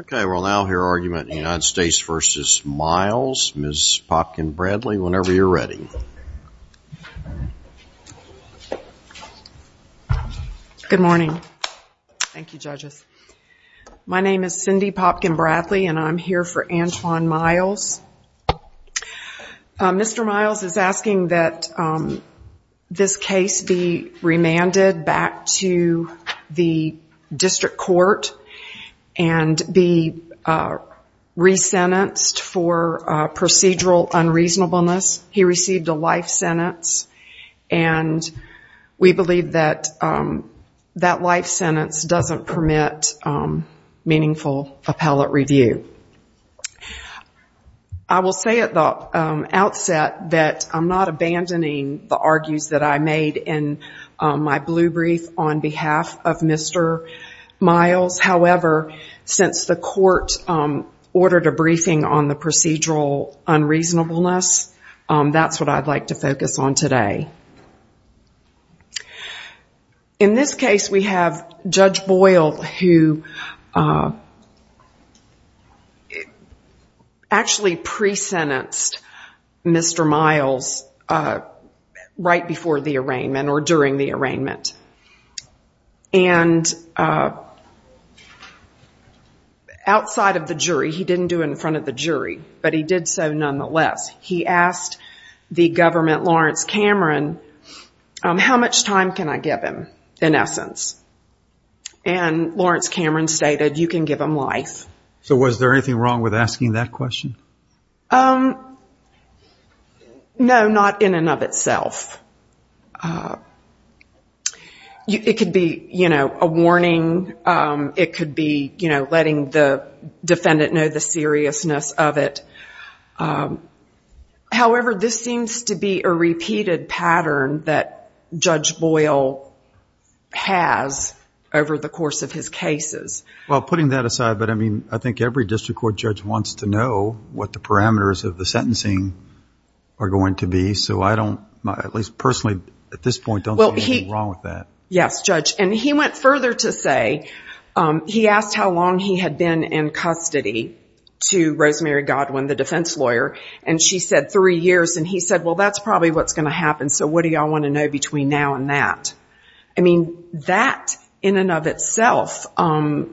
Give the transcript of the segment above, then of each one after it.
Okay, we'll now hear argument in the United States v. Myles. Ms. Popkin-Bradley, whenever you're ready. Good morning. Thank you, judges. My name is Cindy Popkin-Bradley, and I'm here for Antoine Myles. Mr. Myles is asking that this case be remanded back to the District Court and be re-sentenced for procedural unreasonableness. He received a life sentence, and we believe that that life sentence doesn't permit meaningful appellate review. I will say at the outset that I'm not abandoning the argues that I made in my blue brief on the procedural unreasonableness. That's what I'd like to focus on today. In this case, we have Judge Boyle, who actually pre-sentenced Mr. Myles right before the arraignment and outside of the jury. He didn't do it in front of the jury, but he did so nonetheless. He asked the government, Lawrence Cameron, how much time can I give him, in essence? And Lawrence Cameron stated, you can give him life. So was there anything wrong with asking that question? No, not in and of itself. It could be a warning. It could be letting the defendant know the seriousness of it. However, this seems to be a repeated pattern that Judge Boyle has over the course of his cases. Well, putting that aside, I think every district court judge wants to know what the parameters of the sentencing are going to be. So I don't, at least personally at this point, don't see anything wrong with that. Yes, Judge. And he went further to say, he asked how long he had been in custody to Rosemary Godwin, the defense lawyer, and she said three years. And he said, well, that's probably what's going to happen, so what do you all want to know between now and that? I mean, that in and of itself, I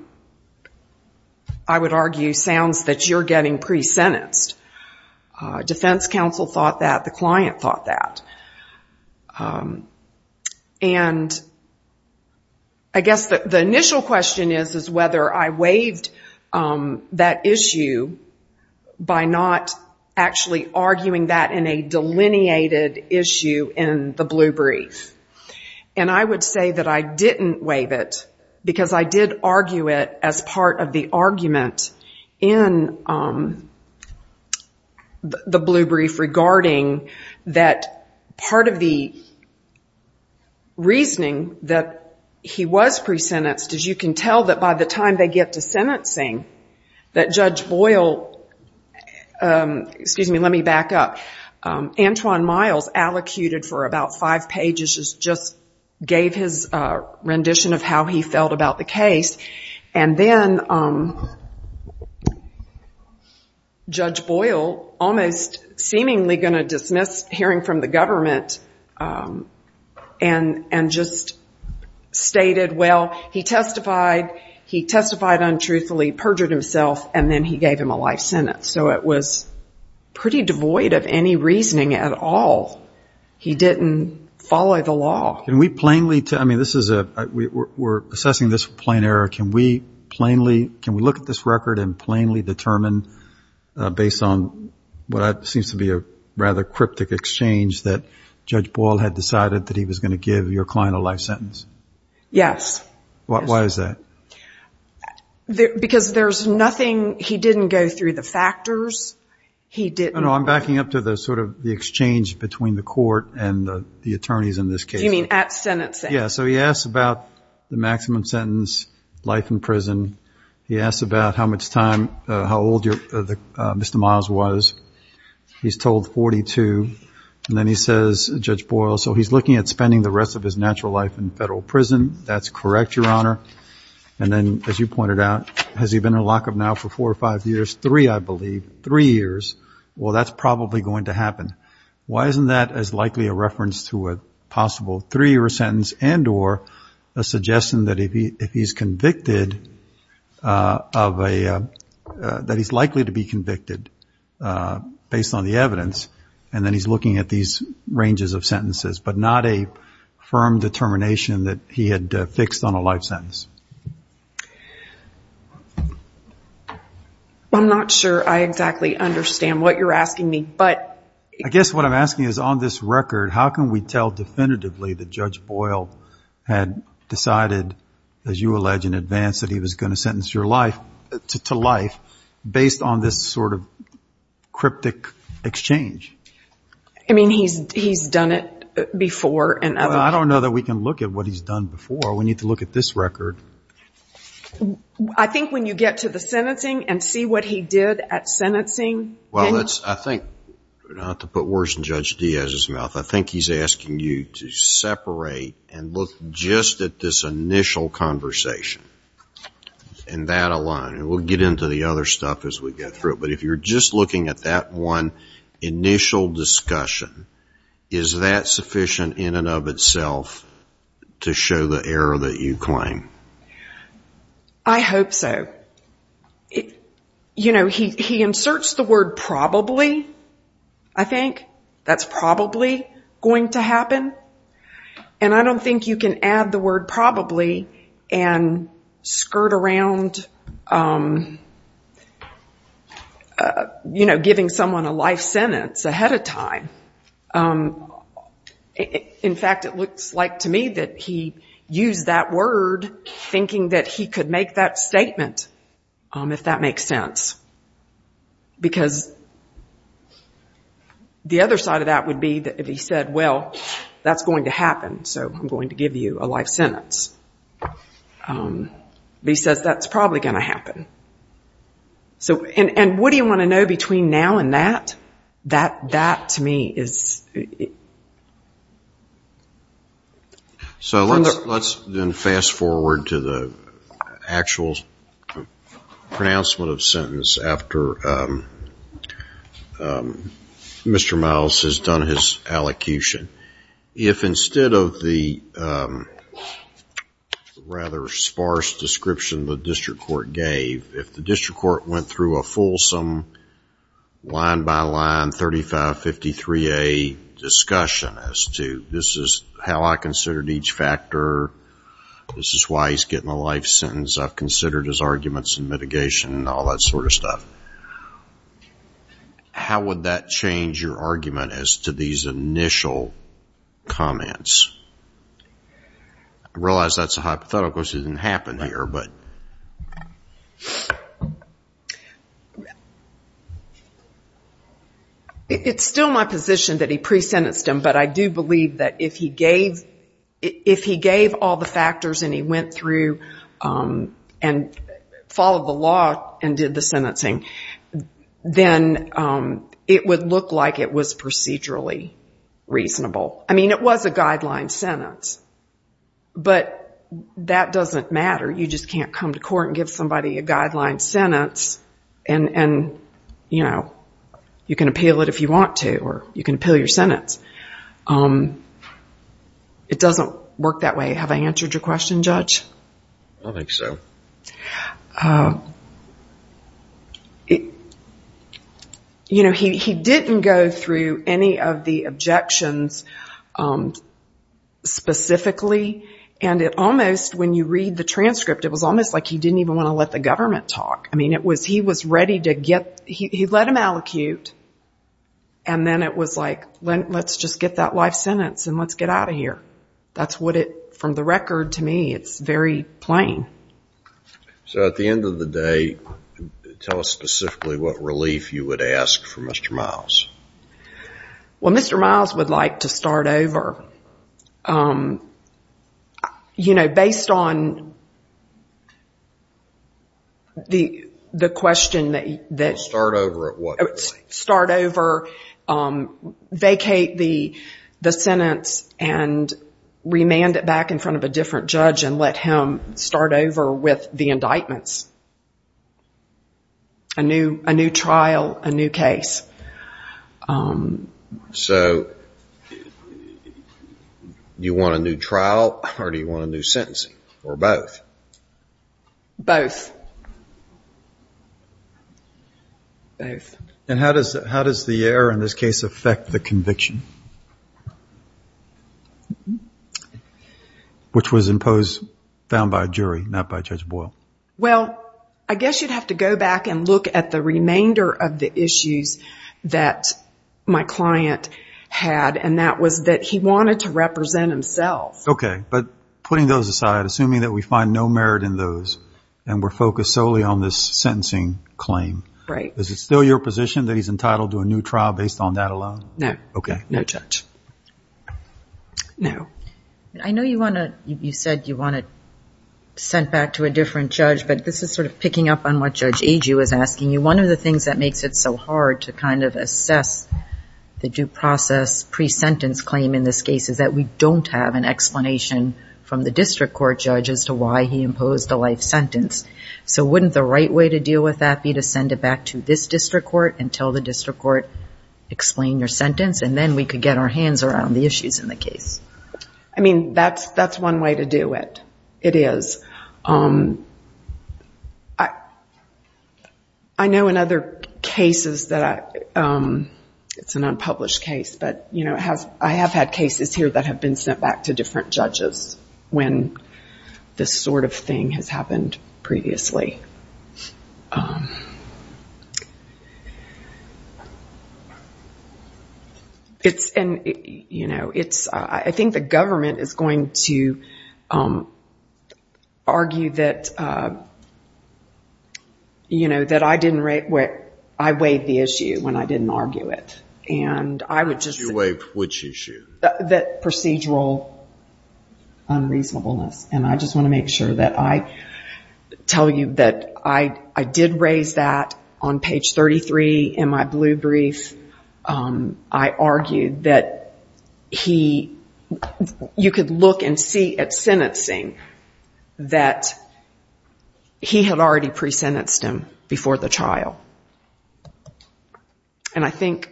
would argue, sounds that you're getting pre-sentenced. Defense counsel thought that. The client thought that. And I guess the initial question is whether I waived that issue by not actually arguing that in a delineated issue in the Blue Brief. And I would say that I didn't waive it because I did argue it as part of the argument in the Blue Brief regarding that part of the reasoning that he was pre-sentenced is you can tell that by the time they get to sentencing that Judge Boyle, excuse me, let me back up, Antwon Miles allocuted for about five pages, just gave his rendition of how he felt about the case. And then Judge Boyle, almost seemingly going to dismiss hearing from the government and just stated, well, he testified, he testified untruthfully, perjured himself, and then he gave him a life sentence. So it was pretty devoid of any reasoning at all. He didn't follow the law. Can we plainly tell, I mean, this is a, we're assessing this for plain error. Can we plainly, can we look at this record and plainly determine based on what seems to be a rather cryptic exchange that Judge Boyle had decided that he was going to give your client a life sentence? Yes. Why is that? Because there's nothing, he didn't go through the factors. He didn't. No, no. I'm backing up to the sort of the exchange between the court and the attorneys in this case. You mean at sentencing? Yeah. So he asks about the maximum sentence, life in prison. He asks about how much time, how old Mr. Miles was. He's told 42. And then he says, Judge Boyle, so he's looking at spending the rest of his natural life in federal prison. That's correct, Your Honor. And then as you pointed out, has he been in lockup now for four or five years? Three, I believe. Three years. Well, that's probably going to happen. Why isn't that as likely a reference to a possible three-year sentence and or a suggestion that if he's convicted of a, that he's likely to be convicted based on the evidence, and then he's looking at these ranges of sentences, but not a firm determination that he had fixed on a life sentence? I'm not sure I exactly understand what you're asking me, but... I guess what I'm asking is on this record, how can we tell definitively that Judge Boyle had decided, as you allege in advance, that he was going to sentence your life to life based on this sort of cryptic exchange? I mean, he's done it before and other... I don't know that we can look at what he's done before. We need to look at this record. I think when you get to the sentencing and see what he did at sentencing... Well, I think, not to put words in Judge Diaz's mouth, I think he's asking you to separate and look just at this initial conversation and that alone. And we'll get into the other stuff as we get through it. But if you're just looking at that one initial discussion, is that sufficient in and of itself to show the error that you claim? I hope so. You know, he inserts the word probably, I think. That's probably going to happen. And I don't think you can add the word probably and skirt around, you know, giving someone a life sentence ahead of time. In fact, it looks like to me that he used that word thinking that he could make that statement, if that makes sense. Because the other side of that would be that if he said, well, that's going to happen, so I'm going to give you a life sentence. He says that's probably going to happen. And what do you want to know between now and that? That, to me, is... So let's then fast forward to the actual pronouncement of the sentence after Mr. Miles has done his allocution. If instead of the rather sparse description the district court gave, if the district court went through a fulsome, line by line, 3553A discussion as to this is how I considered each factor, this is why he's getting a life sentence, I've considered his arguments and mitigation and all that sort of stuff. How would that change your argument as to these initial comments? I realize that's a hypothetical because it didn't happen here. It's still my position that he pre-sentenced him, but I do believe that if he gave all the factors and he went through and followed the law and did the sentencing, then it would look like it was procedurally reasonable. I mean, it was a guideline sentence, but that doesn't matter. You just can't come to court and give somebody a guideline sentence and you can appeal it if you want to or you can appeal your sentence. It doesn't work that way. Have I answered your question, Judge? I think so. He didn't go through any of the objections specifically and it almost, when you read the transcript, it was almost like he didn't even want to let the government talk. I mean, he was ready to get, he let him allocute and then it was like, let's just get that life sentence and let's get out of here. That's what it, from the record to me, it's very plain. So at the end of the day, tell us specifically what relief you would ask for Mr. Miles. Well Mr. Miles would like to start over. You know, based on the question that... Start over at what point? Start over with the sentence and remand it back in front of a different judge and let him start over with the indictments. A new trial, a new case. So you want a new trial or do you want a new sentencing, or both? Both, both. And how does the error in this case affect the conviction? Which was imposed, found by a jury, not by Judge Boyle. Well, I guess you'd have to go back and look at the remainder of the issues that my client had and that was that he wanted to represent himself. Okay, but putting those aside, assuming that we find no merit in those and we're focused solely on this sentencing claim. Right. Is it still your position that he's entitled to a new trial based on that alone? No. Okay. No judge. No. I know you said you want it sent back to a different judge, but this is sort of picking up on what Judge Agee was asking you. One of the things that makes it so hard to kind of assess the due process pre-sentence claim in this case is that we don't have an explanation from the district court judge as to why he imposed a life sentence. So wouldn't the right way to deal with that be to send it back to this district court and tell the district court, explain your sentence and then we could get our hands around the issues in the case? I mean, that's one way to do it. It is. I know in other cases that, it's an unpublished case, but I have had cases here that have been sent back to different judges when this sort of thing has happened previously. I think the government is going to argue that I weighed the issue when I didn't argue it. You weighed which issue? That procedural unreasonableness. And I just want to make sure that I tell you that I did raise that on page 33 in my blue brief. I argued that you could look and see at sentencing that he had already pre-sentenced him before the trial. And I think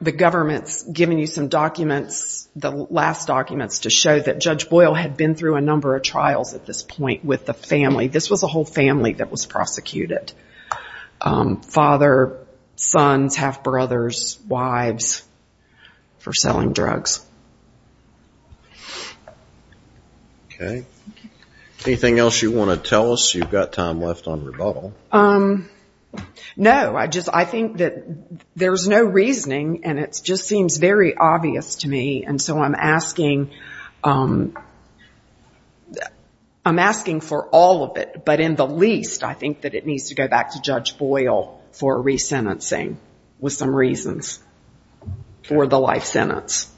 the government's giving you some documents, the last documents, to show that Judge Boyle had been through a number of trials at this point with the family. This was a whole family that was prosecuted. Father, sons, half-brothers, wives, for selling drugs. Anything else you want to tell us? You've got time left on rebuttal. No. I think that there's no reasoning and it just seems very obvious to me. And so I'm asking for all of it. But in the least, I think that it needs to go back to Judge Boyle for re-sentencing with some reasons for the life sentence.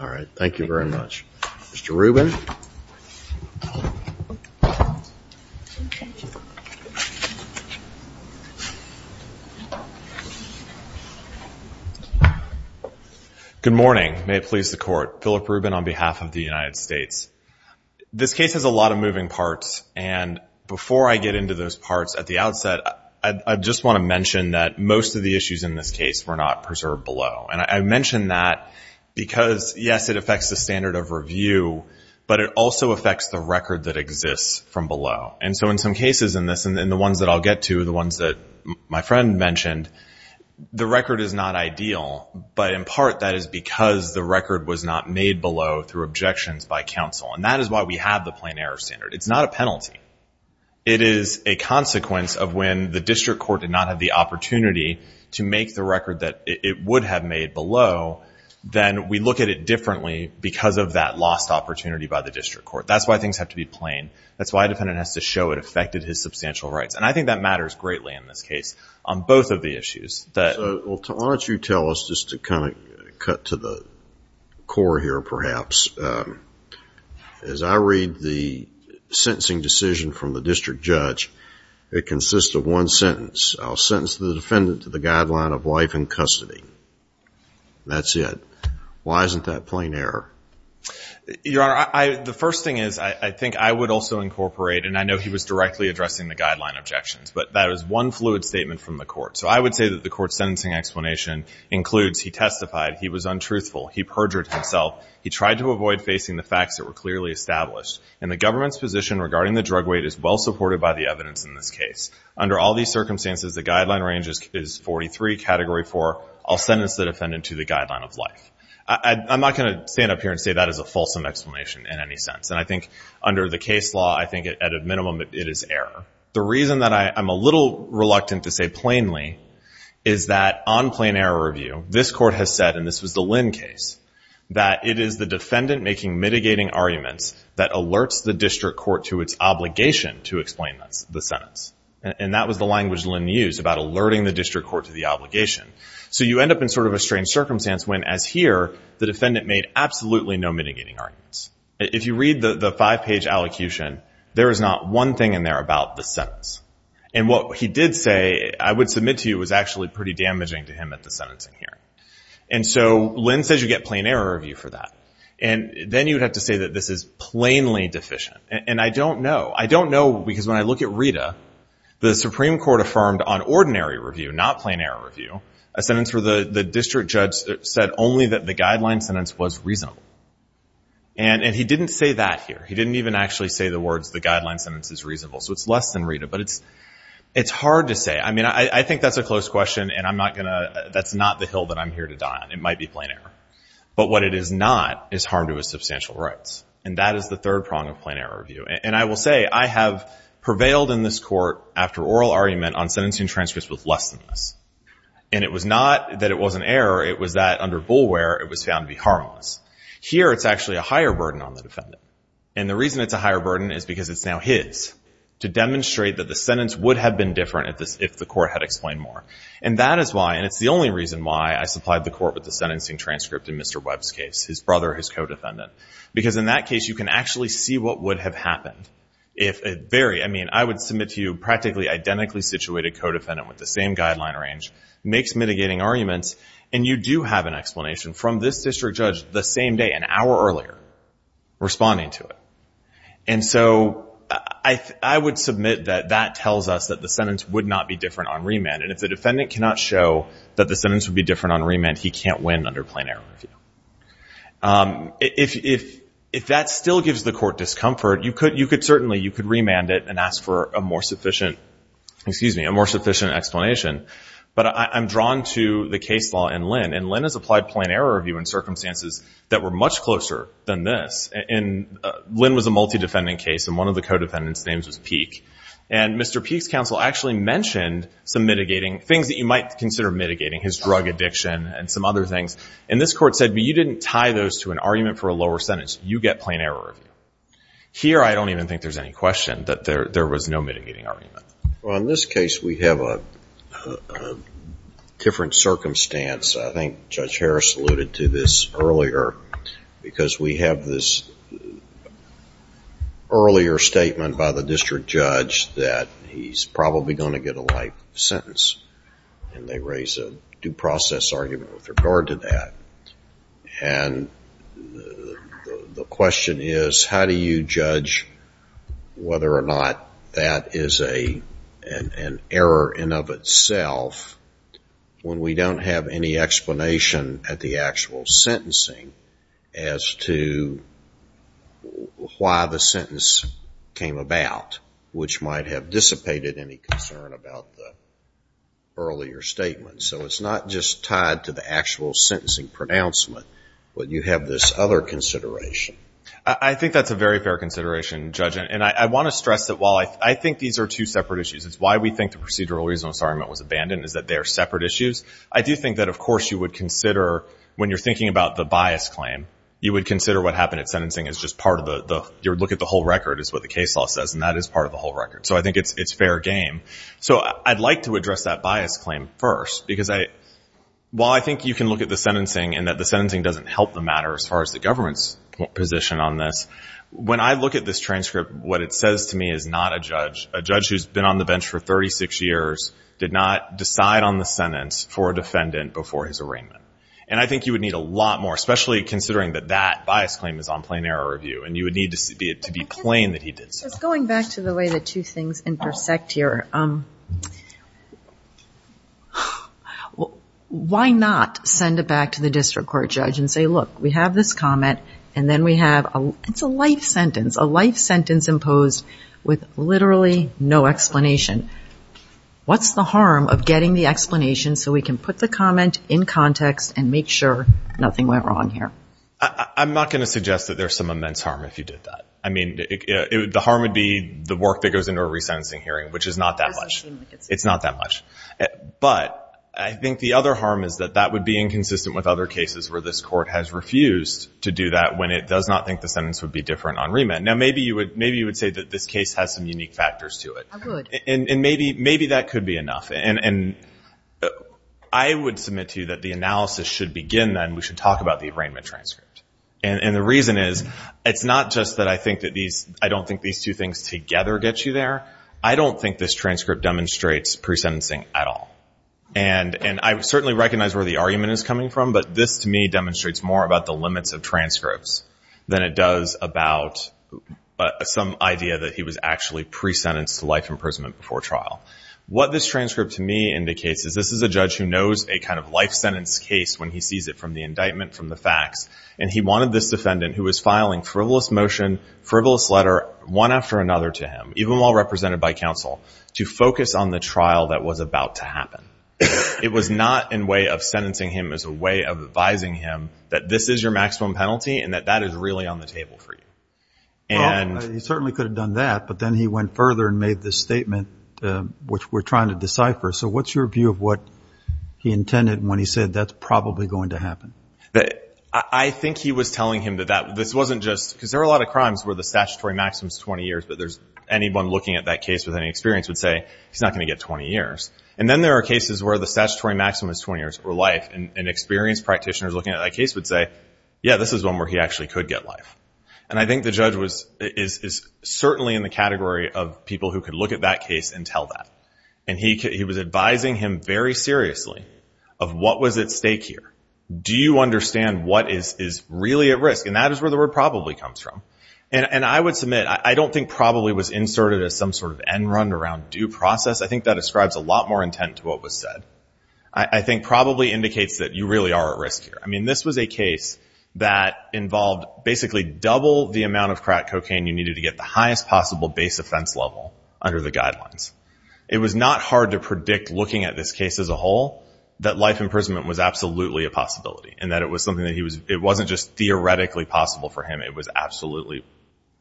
All right. Thank you very much. Mr. Rubin. Good morning. May it please the Court. Philip Rubin on behalf of the United States. This case has a lot of moving parts. And before I get into those parts at the outset, I just want to mention that most of the issues in this case were not preserved below. And I say that because, yes, it affects the standard of review, but it also affects the record that exists from below. And so in some cases in this, and the ones that I'll get to, the ones that my friend mentioned, the record is not ideal. But in part, that is because the record was not made below through objections by counsel. And that is why we have the plain error standard. It's not a penalty. It is a consequence of when the district court did not have the opportunity to make the record that it would have made below, then we look at it differently because of that lost opportunity by the district court. That's why things have to be plain. That's why a defendant has to show it affected his substantial rights. And I think that matters greatly in this case on both of the issues. So why don't you tell us, just to kind of cut to the core here perhaps, as I read the report, sentence the defendant to the guideline of life in custody. That's it. Why isn't that plain error? Your Honor, the first thing is I think I would also incorporate, and I know he was directly addressing the guideline objections, but that is one fluid statement from the court. So I would say that the court's sentencing explanation includes he testified, he was untruthful, he perjured himself, he tried to avoid facing the facts that were clearly established. And the government's position regarding the drug weight is well supported by the evidence in this case. Under all these circumstances, the guideline range is 43, category 4. I'll sentence the defendant to the guideline of life. I'm not going to stand up here and say that is a fulsome explanation in any sense. And I think under the case law, I think at a minimum it is error. The reason that I'm a little reluctant to say plainly is that on plain error review, this court has said, and this was the Lynn case, that it is the defendant making mitigating arguments that alerts the district court to its obligation to explain the sentence. And that was the language Lynn used about alerting the district court to the obligation. So you end up in sort of a strange circumstance when, as here, the defendant made absolutely no mitigating arguments. If you read the five page allocution, there is not one thing in there about the sentence. And what he did say, I would submit to you, was actually pretty damaging to him at the sentencing hearing. And so Lynn says you get plain error review for that. And then you would have to say that this is plainly deficient. And I don't know. I don't know because when I look at Rita, the Supreme Court affirmed on ordinary review, not plain error review, a sentence where the district judge said only that the guideline sentence was reasonable. And he didn't say that here. He didn't even actually say the words, the guideline sentence is reasonable. So it's less than Rita. But it's hard to say. I mean, I think that's a close question, and that's not the hill that I'm here to die on. It might be plain error. But what it is not is harm to his substantial rights. And that is the third prong of plain error review. And I will say, I have prevailed in this court after oral argument on sentencing transcripts with less than this. And it was not that it was an error. It was that under bulware, it was found to be harmless. Here, it's actually a higher burden on the defendant. And the reason it's a higher burden is because it's now his to demonstrate that the sentence would have been different if the court had explained more. And that is why, and it's the only reason why I supplied the court with the sentencing transcript in Mr. Webb's case, his brother, his co-defendant. Because in that case, you can actually see what would have happened if a very, I mean, I would submit to you practically identically situated co-defendant with the same guideline range, makes mitigating arguments, and you do have an explanation from this district judge the same day, an hour earlier, responding to it. And so I would submit that that tells us that the sentence would not be different on remand. And if the defendant cannot show that the sentence would be different on remand, he can't win under plain error review. If that still gives the court discomfort, you could certainly, you could remand it and ask for a more sufficient explanation. But I'm drawn to the case law in Lynn. And Lynn has applied plain error review in circumstances that were Lynn was a multi-defendant case, and one of the co-defendants' names was Peek. And Mr. Peek's counsel actually mentioned some mitigating, things that you might consider mitigating, his drug addiction and some other things. And this court said, well, you didn't tie those to an argument for a lower sentence. You get plain error review. Here, I don't even think there's any question that there was no mitigating argument. Well, in this case, we have a different circumstance. I think Judge Harris alluded to this earlier, because we have this earlier statement by the district judge that he's probably going to get a life sentence. And they raise a due process argument with regard to that. And the question is, how do you judge whether or not that is an error in of itself when we don't have any explanation at the actual sentencing as to why the sentence came about, which might have dissipated any concern about the earlier statement? So it's not just tied to the actual sentencing pronouncement, but you have this other consideration. I think that's a very fair consideration, Judge. And I want to stress that while I think these are two separate issues, it's why we think the procedural reason this argument was abandoned is that they are separate issues. I do think that, of course, you would consider when you're thinking about the bias claim, you would consider what happened at sentencing as just part of the, you would look at the whole record is what the case law says, and that is part of the whole record. So I think it's fair game. So I'd like to address that bias claim first, because while I think you can look at the sentencing and that the sentencing doesn't help the matter as far as the government's position on this, when I look at this transcript, what it says to me is not a judge. A judge who's been on the bench for 36 years did not decide on the sentence for a defendant before his arraignment. And I think you would need a lot more, especially considering that that bias claim is on plain error review, and you would need to be plain that he did so. So going back to the way the two things intersect here, why not send it back to the district court judge and say, look, we have this comment, and then we have a, it's a life sentence, a life sentence imposed with literally no explanation. What's the harm of getting the explanation so we can put the comment in context and make sure nothing went wrong here? I'm not going to suggest that there's some immense harm if you did that. I mean, the harm would be the work that goes into a resentencing hearing, which is not that much. It's not that much. But I think the other harm is that that would be inconsistent with other cases where this court has refused to do that when it does not think the sentence would be different on remand. Now, maybe you would, maybe you would say that this case has some unique factors to it. I would. And maybe, maybe that could be enough. And I would submit to you that the analysis should begin then. We should talk about the arraignment transcript. And the reason is, it's not just that I think that these, I don't think these two things together get you there. I don't think this transcript demonstrates pre-sentencing at all. And I certainly recognize where the argument is coming from, but this to me demonstrates more about the limits of transcripts than it does about some idea that he was actually pre-sentenced to life imprisonment before trial. What this transcript to me indicates is this is a judge who knows a kind of life sentence case when he sees it from the indictment, from the facts. And he wanted this defendant who was filing frivolous motion, frivolous letter, one after another to him, even while represented by counsel, to focus on the trial that was about to happen. It was not in way of sentencing him as a way of advising him that this is your maximum penalty and that that is really on the table for you. And... Well, he certainly could have done that, but then he went further and made this statement which we're trying to decipher. So what's your view of what he intended when he said that's probably going to happen? I think he was telling him that this wasn't just, because there are a lot of crimes where the statutory maximum is 20 years, but there's, anyone looking at that case with any experience would say, he's not going to get 20 years. And then there are cases where the statutory maximum is 20 years or life. And experienced practitioners looking at that case would say, yeah, this is one where he actually could get life. And I think the judge was, is certainly in the category of people who could look at that case and tell that. And he was advising him very seriously of what was at stake here. Do you understand what is really at risk? And that is where the word probably comes from. And I would submit, I don't think probably was inserted as some sort of end run around due process. I think that ascribes a lot more intent to what was said. I think probably indicates that you really are at risk here. I mean, this was a case that involved basically double the amount of crack cocaine you needed to get the highest possible base offense level under the guidelines. It was not hard to predict looking at this case as a whole that life imprisonment was absolutely a possibility and that it was something that he was, it wasn't just theoretically possible for him. It was absolutely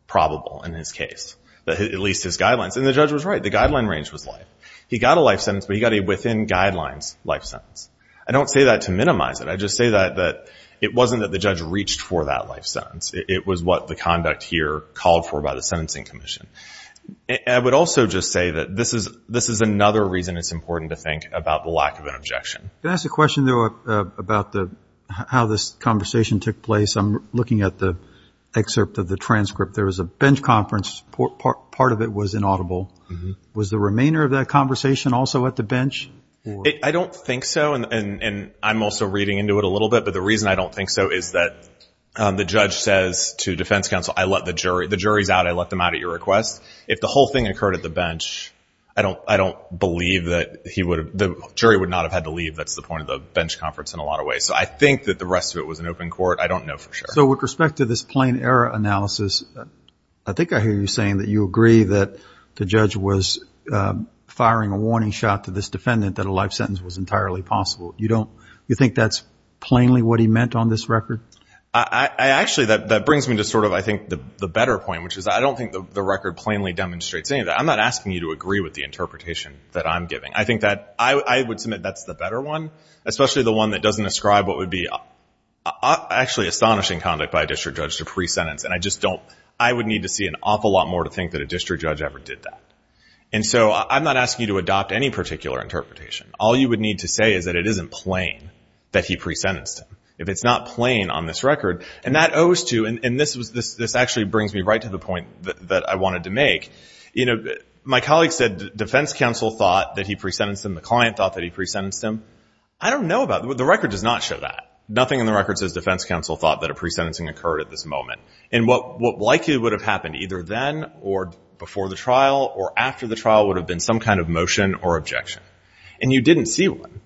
probable in his case, at least his guidelines. And the judge was right. The guideline range was life. He got a life sentence, but he got a within guidelines life sentence. I don't say that to minimize it. I just say that it wasn't that the judge reached for that life sentence. It was what the conduct here called for by the sentencing commission. I would also just say that this is another reason it's important to think about the lack of an objection. Can I ask a question, though, about how this conversation took place? I'm looking at the excerpt of the transcript. There was a bench conference. Part of it was inaudible. Was the remainder of that conversation also at the bench? I don't think so. And I'm also reading into it a little bit. But the reason I don't think so is that the judge says to defense counsel, I let the jury, the jury's out, I let them out at your request. If the whole thing occurred at the bench, I don't believe that he would have, the jury would not have had to leave. That's the point of the bench conference in a lot of ways. So I think that the rest of it was an open court. I don't know for sure. So with respect to this plain error analysis, I think I hear you saying that you agree that the judge was firing a warning shot to this defendant that a life sentence was entirely possible. You don't, you think that's plainly what he meant on this record? Actually that brings me to sort of, I think, the better point, which is I don't think the record plainly demonstrates any of that. I'm not asking you to agree with the interpretation that I'm giving. I think that, I would submit that's the better one, especially the one that doesn't describe what would be actually astonishing conduct by a district judge to pre-sentence. And I just don't, I would need to see an awful lot more to think that a district judge ever did that. And so I'm not asking you to adopt any particular interpretation. All you would need to say is that it isn't plain that he pre-sentenced him. If it's not plain on this record, and that owes to, and this actually brings me right to the point that I wanted to make, you know, my colleague said defense counsel thought that he pre-sentenced him, the client thought that he pre-sentenced him. I don't know about, the record does not show that. Nothing in the record says defense counsel thought that a pre-sentencing occurred at this moment. And what likely would have happened either then or before the trial or after the trial would have been some kind of motion or objection. And you didn't see one.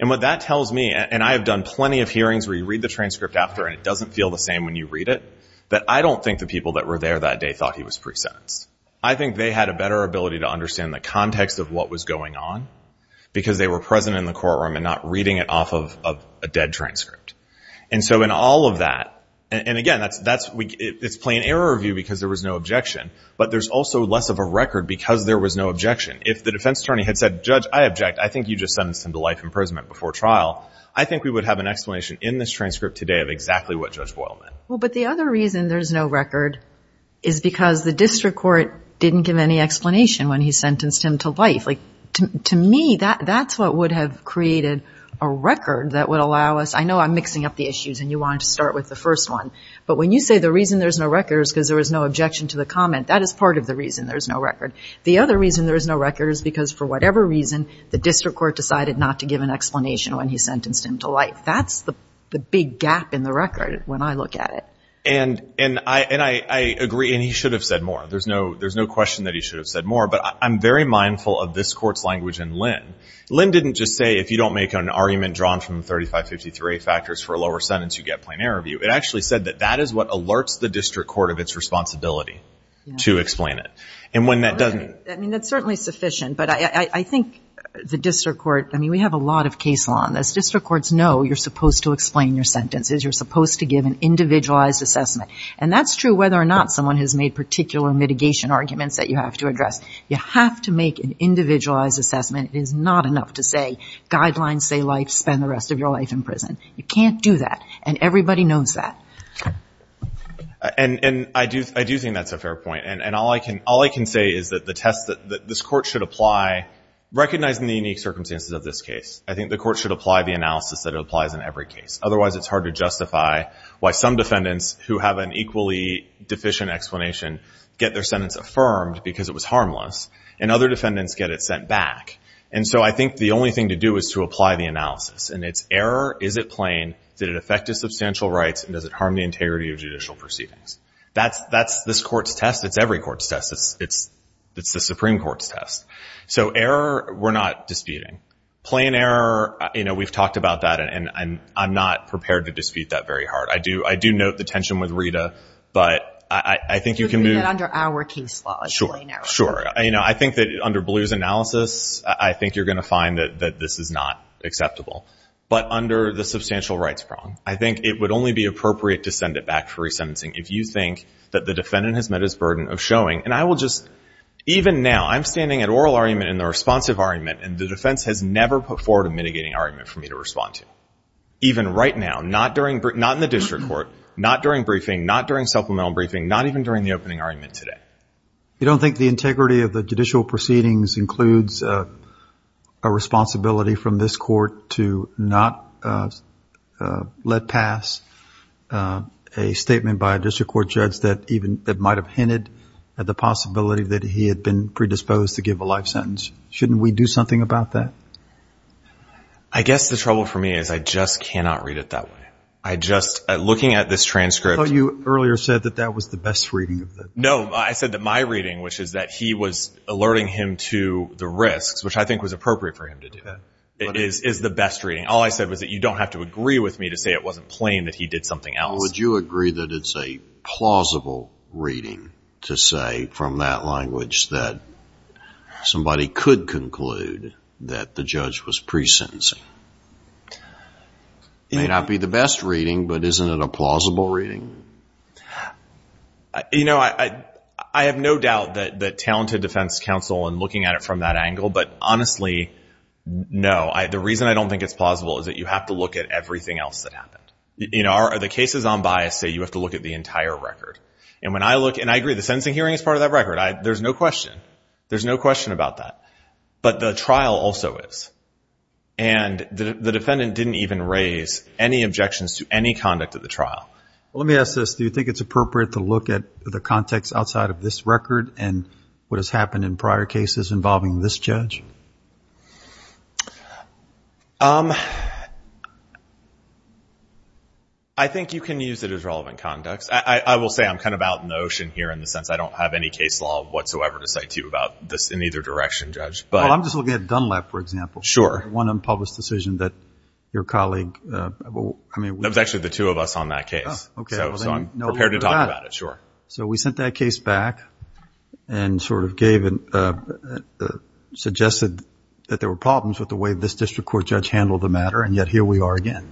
And what that tells me, and I have done plenty of hearings where you read the transcript after and it doesn't feel the same when you read it, that I don't think the people that were there that day thought he was pre-sentenced. I think they had a better ability to understand the context of what was going on because they were present in the courtroom and not reading it off of a dead transcript. And so in all of that, and again, it's plain error view because there was no objection, but there's also less of a record because there was no objection. If the defense attorney had said, Judge, I object, I think you just sentenced him to life imprisonment before trial, I think we would have an explanation in this transcript today of exactly what Judge Boyle meant. Well, but the other reason there's no record is because the district court didn't give any explanation when he sentenced him to life. Like, to me, that's what would have created a record that would allow us, I know I'm mixing up the issues and you wanted to start with the first one, but when you say the reason there's no record is because there was no objection to the comment, that is part of the reason there's no record. The other reason there's no record is because for whatever reason, the district court decided not to give an explanation when he sentenced him to life. That's the big gap in the record when I look at it. And I agree, and he should have said more. There's no question that he should have said more, but I'm very mindful of this court's language in Lynn. Lynn didn't just say, if you don't make an argument drawn from the 3553A factors for a lower sentence, you get plain error review. It actually said that that is what alerts the district court of its responsibility to explain it. And when that doesn't... I mean, that's certainly sufficient, but I think the district court, I mean, we have a lot of case law on this. District courts know you're supposed to explain your sentences. You're supposed to give an individualized assessment. And that's true whether or not someone has made particular mitigation arguments that you have to address. You have to make an individualized assessment. It is not enough to say, guidelines say life, spend the rest of your life in prison. You can't do that, and everybody knows that. And I do think that's a fair point. And all I can say is that the test that this court should apply, recognizing the unique circumstances of this case, I think the court should apply the analysis that it applies in every case. Otherwise, it's hard to justify why some defendants who have an equally deficient explanation get their sentence affirmed because it was the defendants who get it sent back. And so I think the only thing to do is to apply the analysis. And it's error, is it plain, did it affect his substantial rights, and does it harm the integrity of judicial proceedings? That's this court's test. It's every court's test. It's the Supreme Court's test. So error, we're not disputing. Plain error, you know, we've talked about that, and I'm not prepared to dispute that very hard. I do note the tension with Rita, but I think you can do... You're looking at it under our case law as plain error. Sure. You know, I think that under Blue's analysis, I think you're going to find that this is not acceptable. But under the substantial rights prong, I think it would only be appropriate to send it back for resentencing if you think that the defendant has met his burden of showing, and I will just... Even now, I'm standing at oral argument and the responsive argument, and the defense has never put forward a mitigating argument for me to respond to. Even right now, not in the district court, not during briefing, not during supplemental briefing, not even during the opening argument today. You don't think the integrity of the judicial proceedings includes a responsibility from this court to not let pass a statement by a district court judge that might have hinted at the possibility that he had been predisposed to give a life sentence? Shouldn't we do something about that? I guess the trouble for me is I just cannot read it that way. I just... Looking at this transcript... No, I said that my reading, which is that he was alerting him to the risks, which I think was appropriate for him to do that, is the best reading. All I said was that you don't have to agree with me to say it wasn't plain that he did something else. Would you agree that it's a plausible reading to say from that language that somebody could conclude that the judge was presencing? It may not be the best reading, but isn't it a plausible reading? You know, I have no doubt that talented defense counsel and looking at it from that angle, but honestly, no. The reason I don't think it's plausible is that you have to look at everything else that happened. The cases on bias say you have to look at the entire record. And I agree, the sentencing hearing is part of that record. There's no question. There's no question about that. But the trial also is. And the defendant didn't even raise any objections to any conduct at the trial. Well, let me ask this. Do you think it's appropriate to look at the context outside of this record and what has happened in prior cases involving this judge? I think you can use it as relevant conduct. I will say I'm kind of out in the ocean here in the sense I don't have any case law whatsoever to say to you about this in either direction, Judge. Well, I'm just looking at Dunlap, for example. Sure. One unpublished decision that your colleague, I mean... That was actually the two of us on that case. So I'm prepared to talk about it, sure. So we sent that case back and sort of gave it, suggested that there were problems with the way this district court judge handled the matter, and yet here we are again.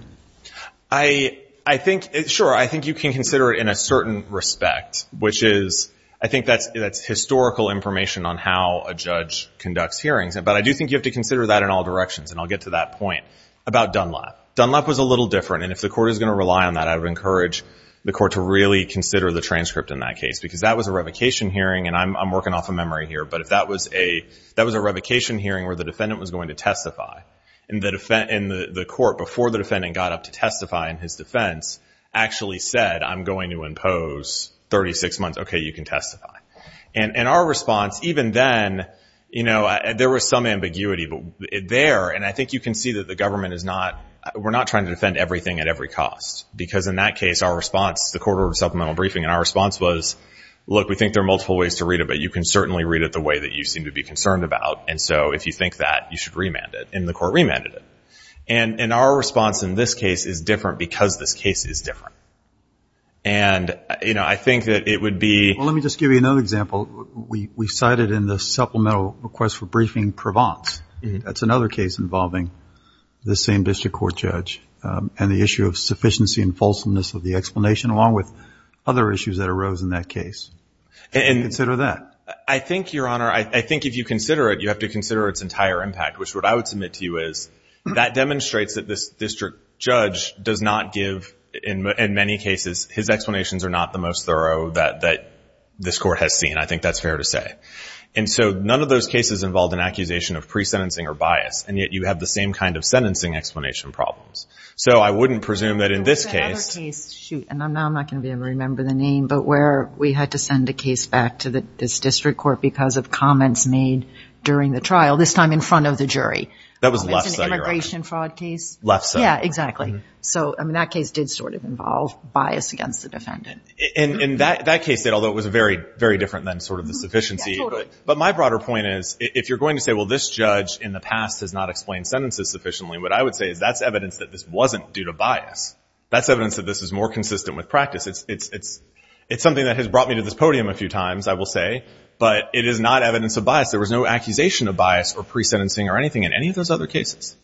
I think, sure, I think you can consider it in a certain respect, which is, I think that's historical information on how a judge conducts hearings. But I do think you have to consider that in all directions. And I'll get to that point about Dunlap. Dunlap was a little different. And if the court is going to rely on that, I would encourage the court to really consider the transcript in that case. Because that was a revocation hearing, and I'm working off a memory here, but that was a revocation hearing where the defendant was going to testify. And the court, before the defendant got up to testify in his defense, actually said, I'm going to impose 36 months. Okay, you can testify. And our response, even then, there was some ambiguity there. And I think you can see that the government is not, we're not trying to defend everything at every cost. Because in that case, our response, the court ordered a supplemental briefing, and our response was, look, we think there are multiple ways to read it, but you can certainly read it the way that you seem to be concerned about. And so if you think that, you should remand it. And the court remanded it. And our response in this case is different because this case is different. And, you know, I think that it would be Well, let me just give you another example. We cited in the supplemental request for briefing in Provence. That's another case involving the same district court judge and the issue of sufficiency and fulsomeness of the explanation, along with other issues that arose in that case. And consider that. I think, Your Honor, I think if you consider it, you have to consider its entire impact, which what I would submit to you is that demonstrates that this district judge does not give, in many cases, his explanations are not the most thorough that this court has seen. I think that's fair to say. And so none of those cases involved an accusation of pre-sentencing or bias. And yet you have the same kind of sentencing explanation problems. So I wouldn't presume that in this case There was another case, shoot, and now I'm not going to be able to remember the name, but where we had to send a case back to this district court because of comments made during the trial, this time in front of the jury. That was Lefse, Your Honor. It was an immigration fraud case. Lefse. Yeah, exactly. So, I mean, that case did sort of involve bias against the defendant. In that case, although it was very, very different than sort of the sufficiency Yeah, totally. But my broader point is, if you're going to say, well, this judge in the past has not explained sentences sufficiently, what I would say is that's evidence that this wasn't due to bias. That's evidence that this is more consistent with practice. It's something that has brought me to this podium a few times, I will say, but it is not evidence of bias. There was no accusation of bias or pre-sentencing or anything in any of those other cases.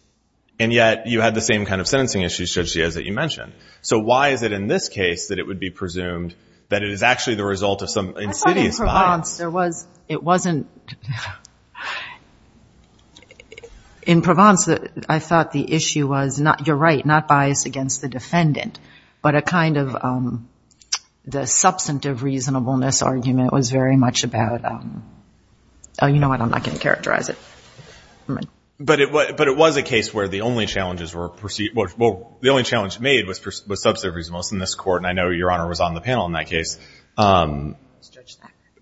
And yet you had the same kind of sentencing issues, Judge Giaz, that you mentioned. So why is it in this case that it would be presumed that it is actually the result of some insidious bias In Provence, I thought the issue was, you're right, not bias against the defendant, but a kind of the substantive reasonableness argument was very much about, oh, you know what, I'm not going to characterize it. But it was a case where the only challenge made was substantive reasonableness in this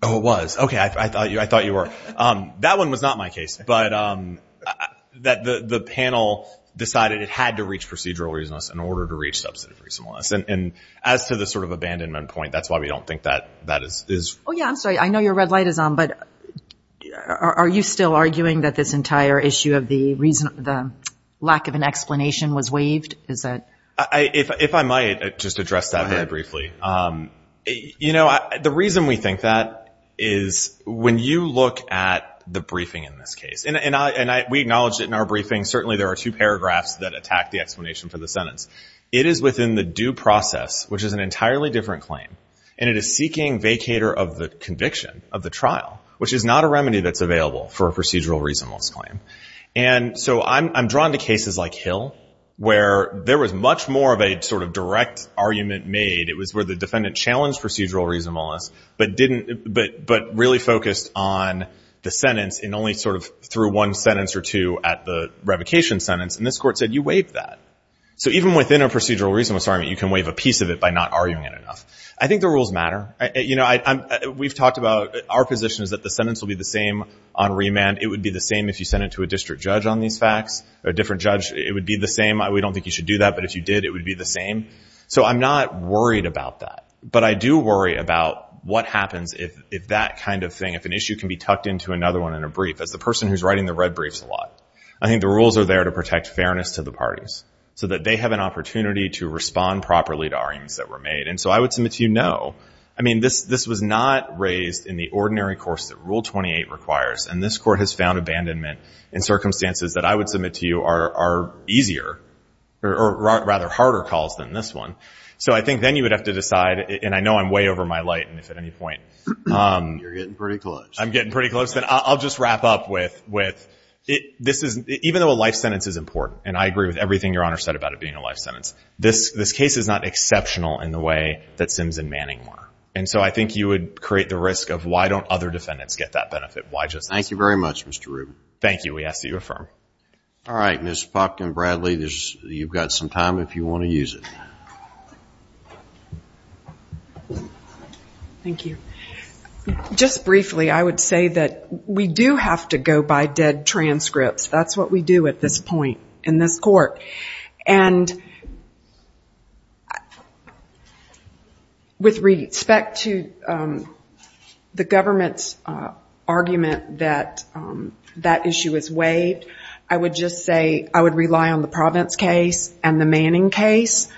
Oh, it was. Okay, I thought you were. That one was not my case, but the panel decided it had to reach procedural reasonableness in order to reach substantive reasonableness. And as to the sort of abandonment point, that's why we don't think that that is Oh, yeah, I'm sorry. I know your red light is on, but are you still arguing that this entire issue of the lack of an explanation was waived? If I might just address that very briefly. You know, the reason we think that is when you look at the briefing in this case, and we acknowledged it in our briefing, certainly there are two paragraphs that attack the explanation for the sentence. It is within the due process, which is an entirely different claim, and it is seeking vacator of the conviction of the trial, which is not a remedy that's available for a procedural reasonableness claim. And so I'm drawn to cases like Hill, where there was much more of a sort of direct argument made. It was where the defendant challenged procedural reasonableness, but really focused on the sentence and only sort of threw one sentence or two at the revocation sentence. And this court said, you waived that. So even within a procedural reasonableness argument, you can waive a piece of it by not arguing it enough. I think the rules matter. You know, we've talked about our position is that the sentence will be the same on remand. It would be the same if you sent it to a district judge on these facts, or a different judge. It would be the same. We don't think you should do that, but if you did, it would be the same. So I'm not worried about that. But I do worry about what happens if that kind of thing, if an issue can be tucked into another one in a brief. As the person who's writing the red briefs a lot, I think the rules are there to protect fairness to the parties, so that they have an opportunity to respond properly to arguments that were made. And so I would submit to you, no. I mean, this was not raised in the ordinary course that Rule 28 requires. And this court has found abandonment in circumstances that I would submit to you are easier, or rather, harder calls than this one. So I think then you would have to decide, and I know I'm way over my light, if at any point. You're getting pretty close. I'm getting pretty close. I'll just wrap up with, even though a life sentence is important, and I agree with everything Your Honor said about it being a life sentence, this case is not exceptional in the way that Sims and Manning were. And so I think you would create the risk of, why don't other defendants get that benefit? Why just us? Thank you very much, Mr. Rubin. Thank you. We ask that you affirm. All right. Ms. Falk and Bradley, you've got some time if you want to use it. Thank you. Just briefly, I would say that we do have to go by dead transcripts. That's what we do at this point in this court. And with respect to the fact that the defendant the government's argument that that issue is waived, I would just say I would rely on the Provence case and the Manning case.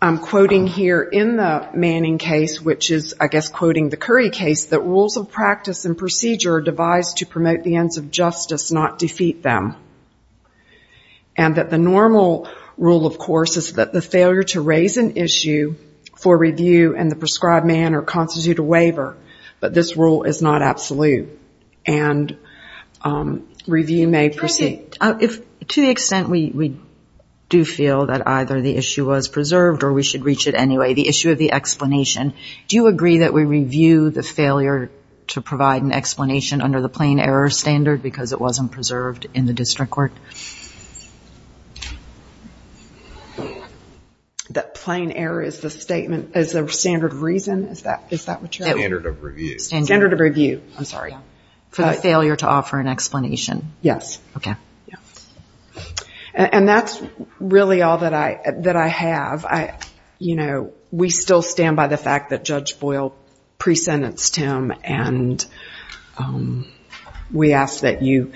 I'm quoting here in the Manning case, which is I guess quoting the Curry case, that rules of practice and procedure are devised to promote the ends of justice, not defeat them. And that the normal rule, of course, is that the man or constitute a waiver. But this rule is not absolute. And review may proceed. To the extent we do feel that either the issue was preserved or we should reach it anyway, the issue of the explanation, do you agree that we review the failure to provide an explanation under the plain error standard because it wasn't preserved in the district court? That plain error is the standard of reason? Is that what you're saying? Standard of review. Standard of review. I'm sorry. For the failure to offer an explanation. Yes. Okay. Yeah. And that's really all that I have. We still stand by the fact that Judge Boyle pre-sentenced him and we ask that you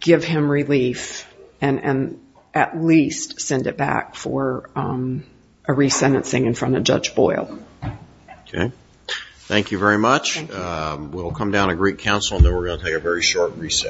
give him relief and at least send it back for a re-sentencing in front of Judge Boyle. Okay. Thank you very much. We'll come down to Greek Council and then we're going to take a very short reset.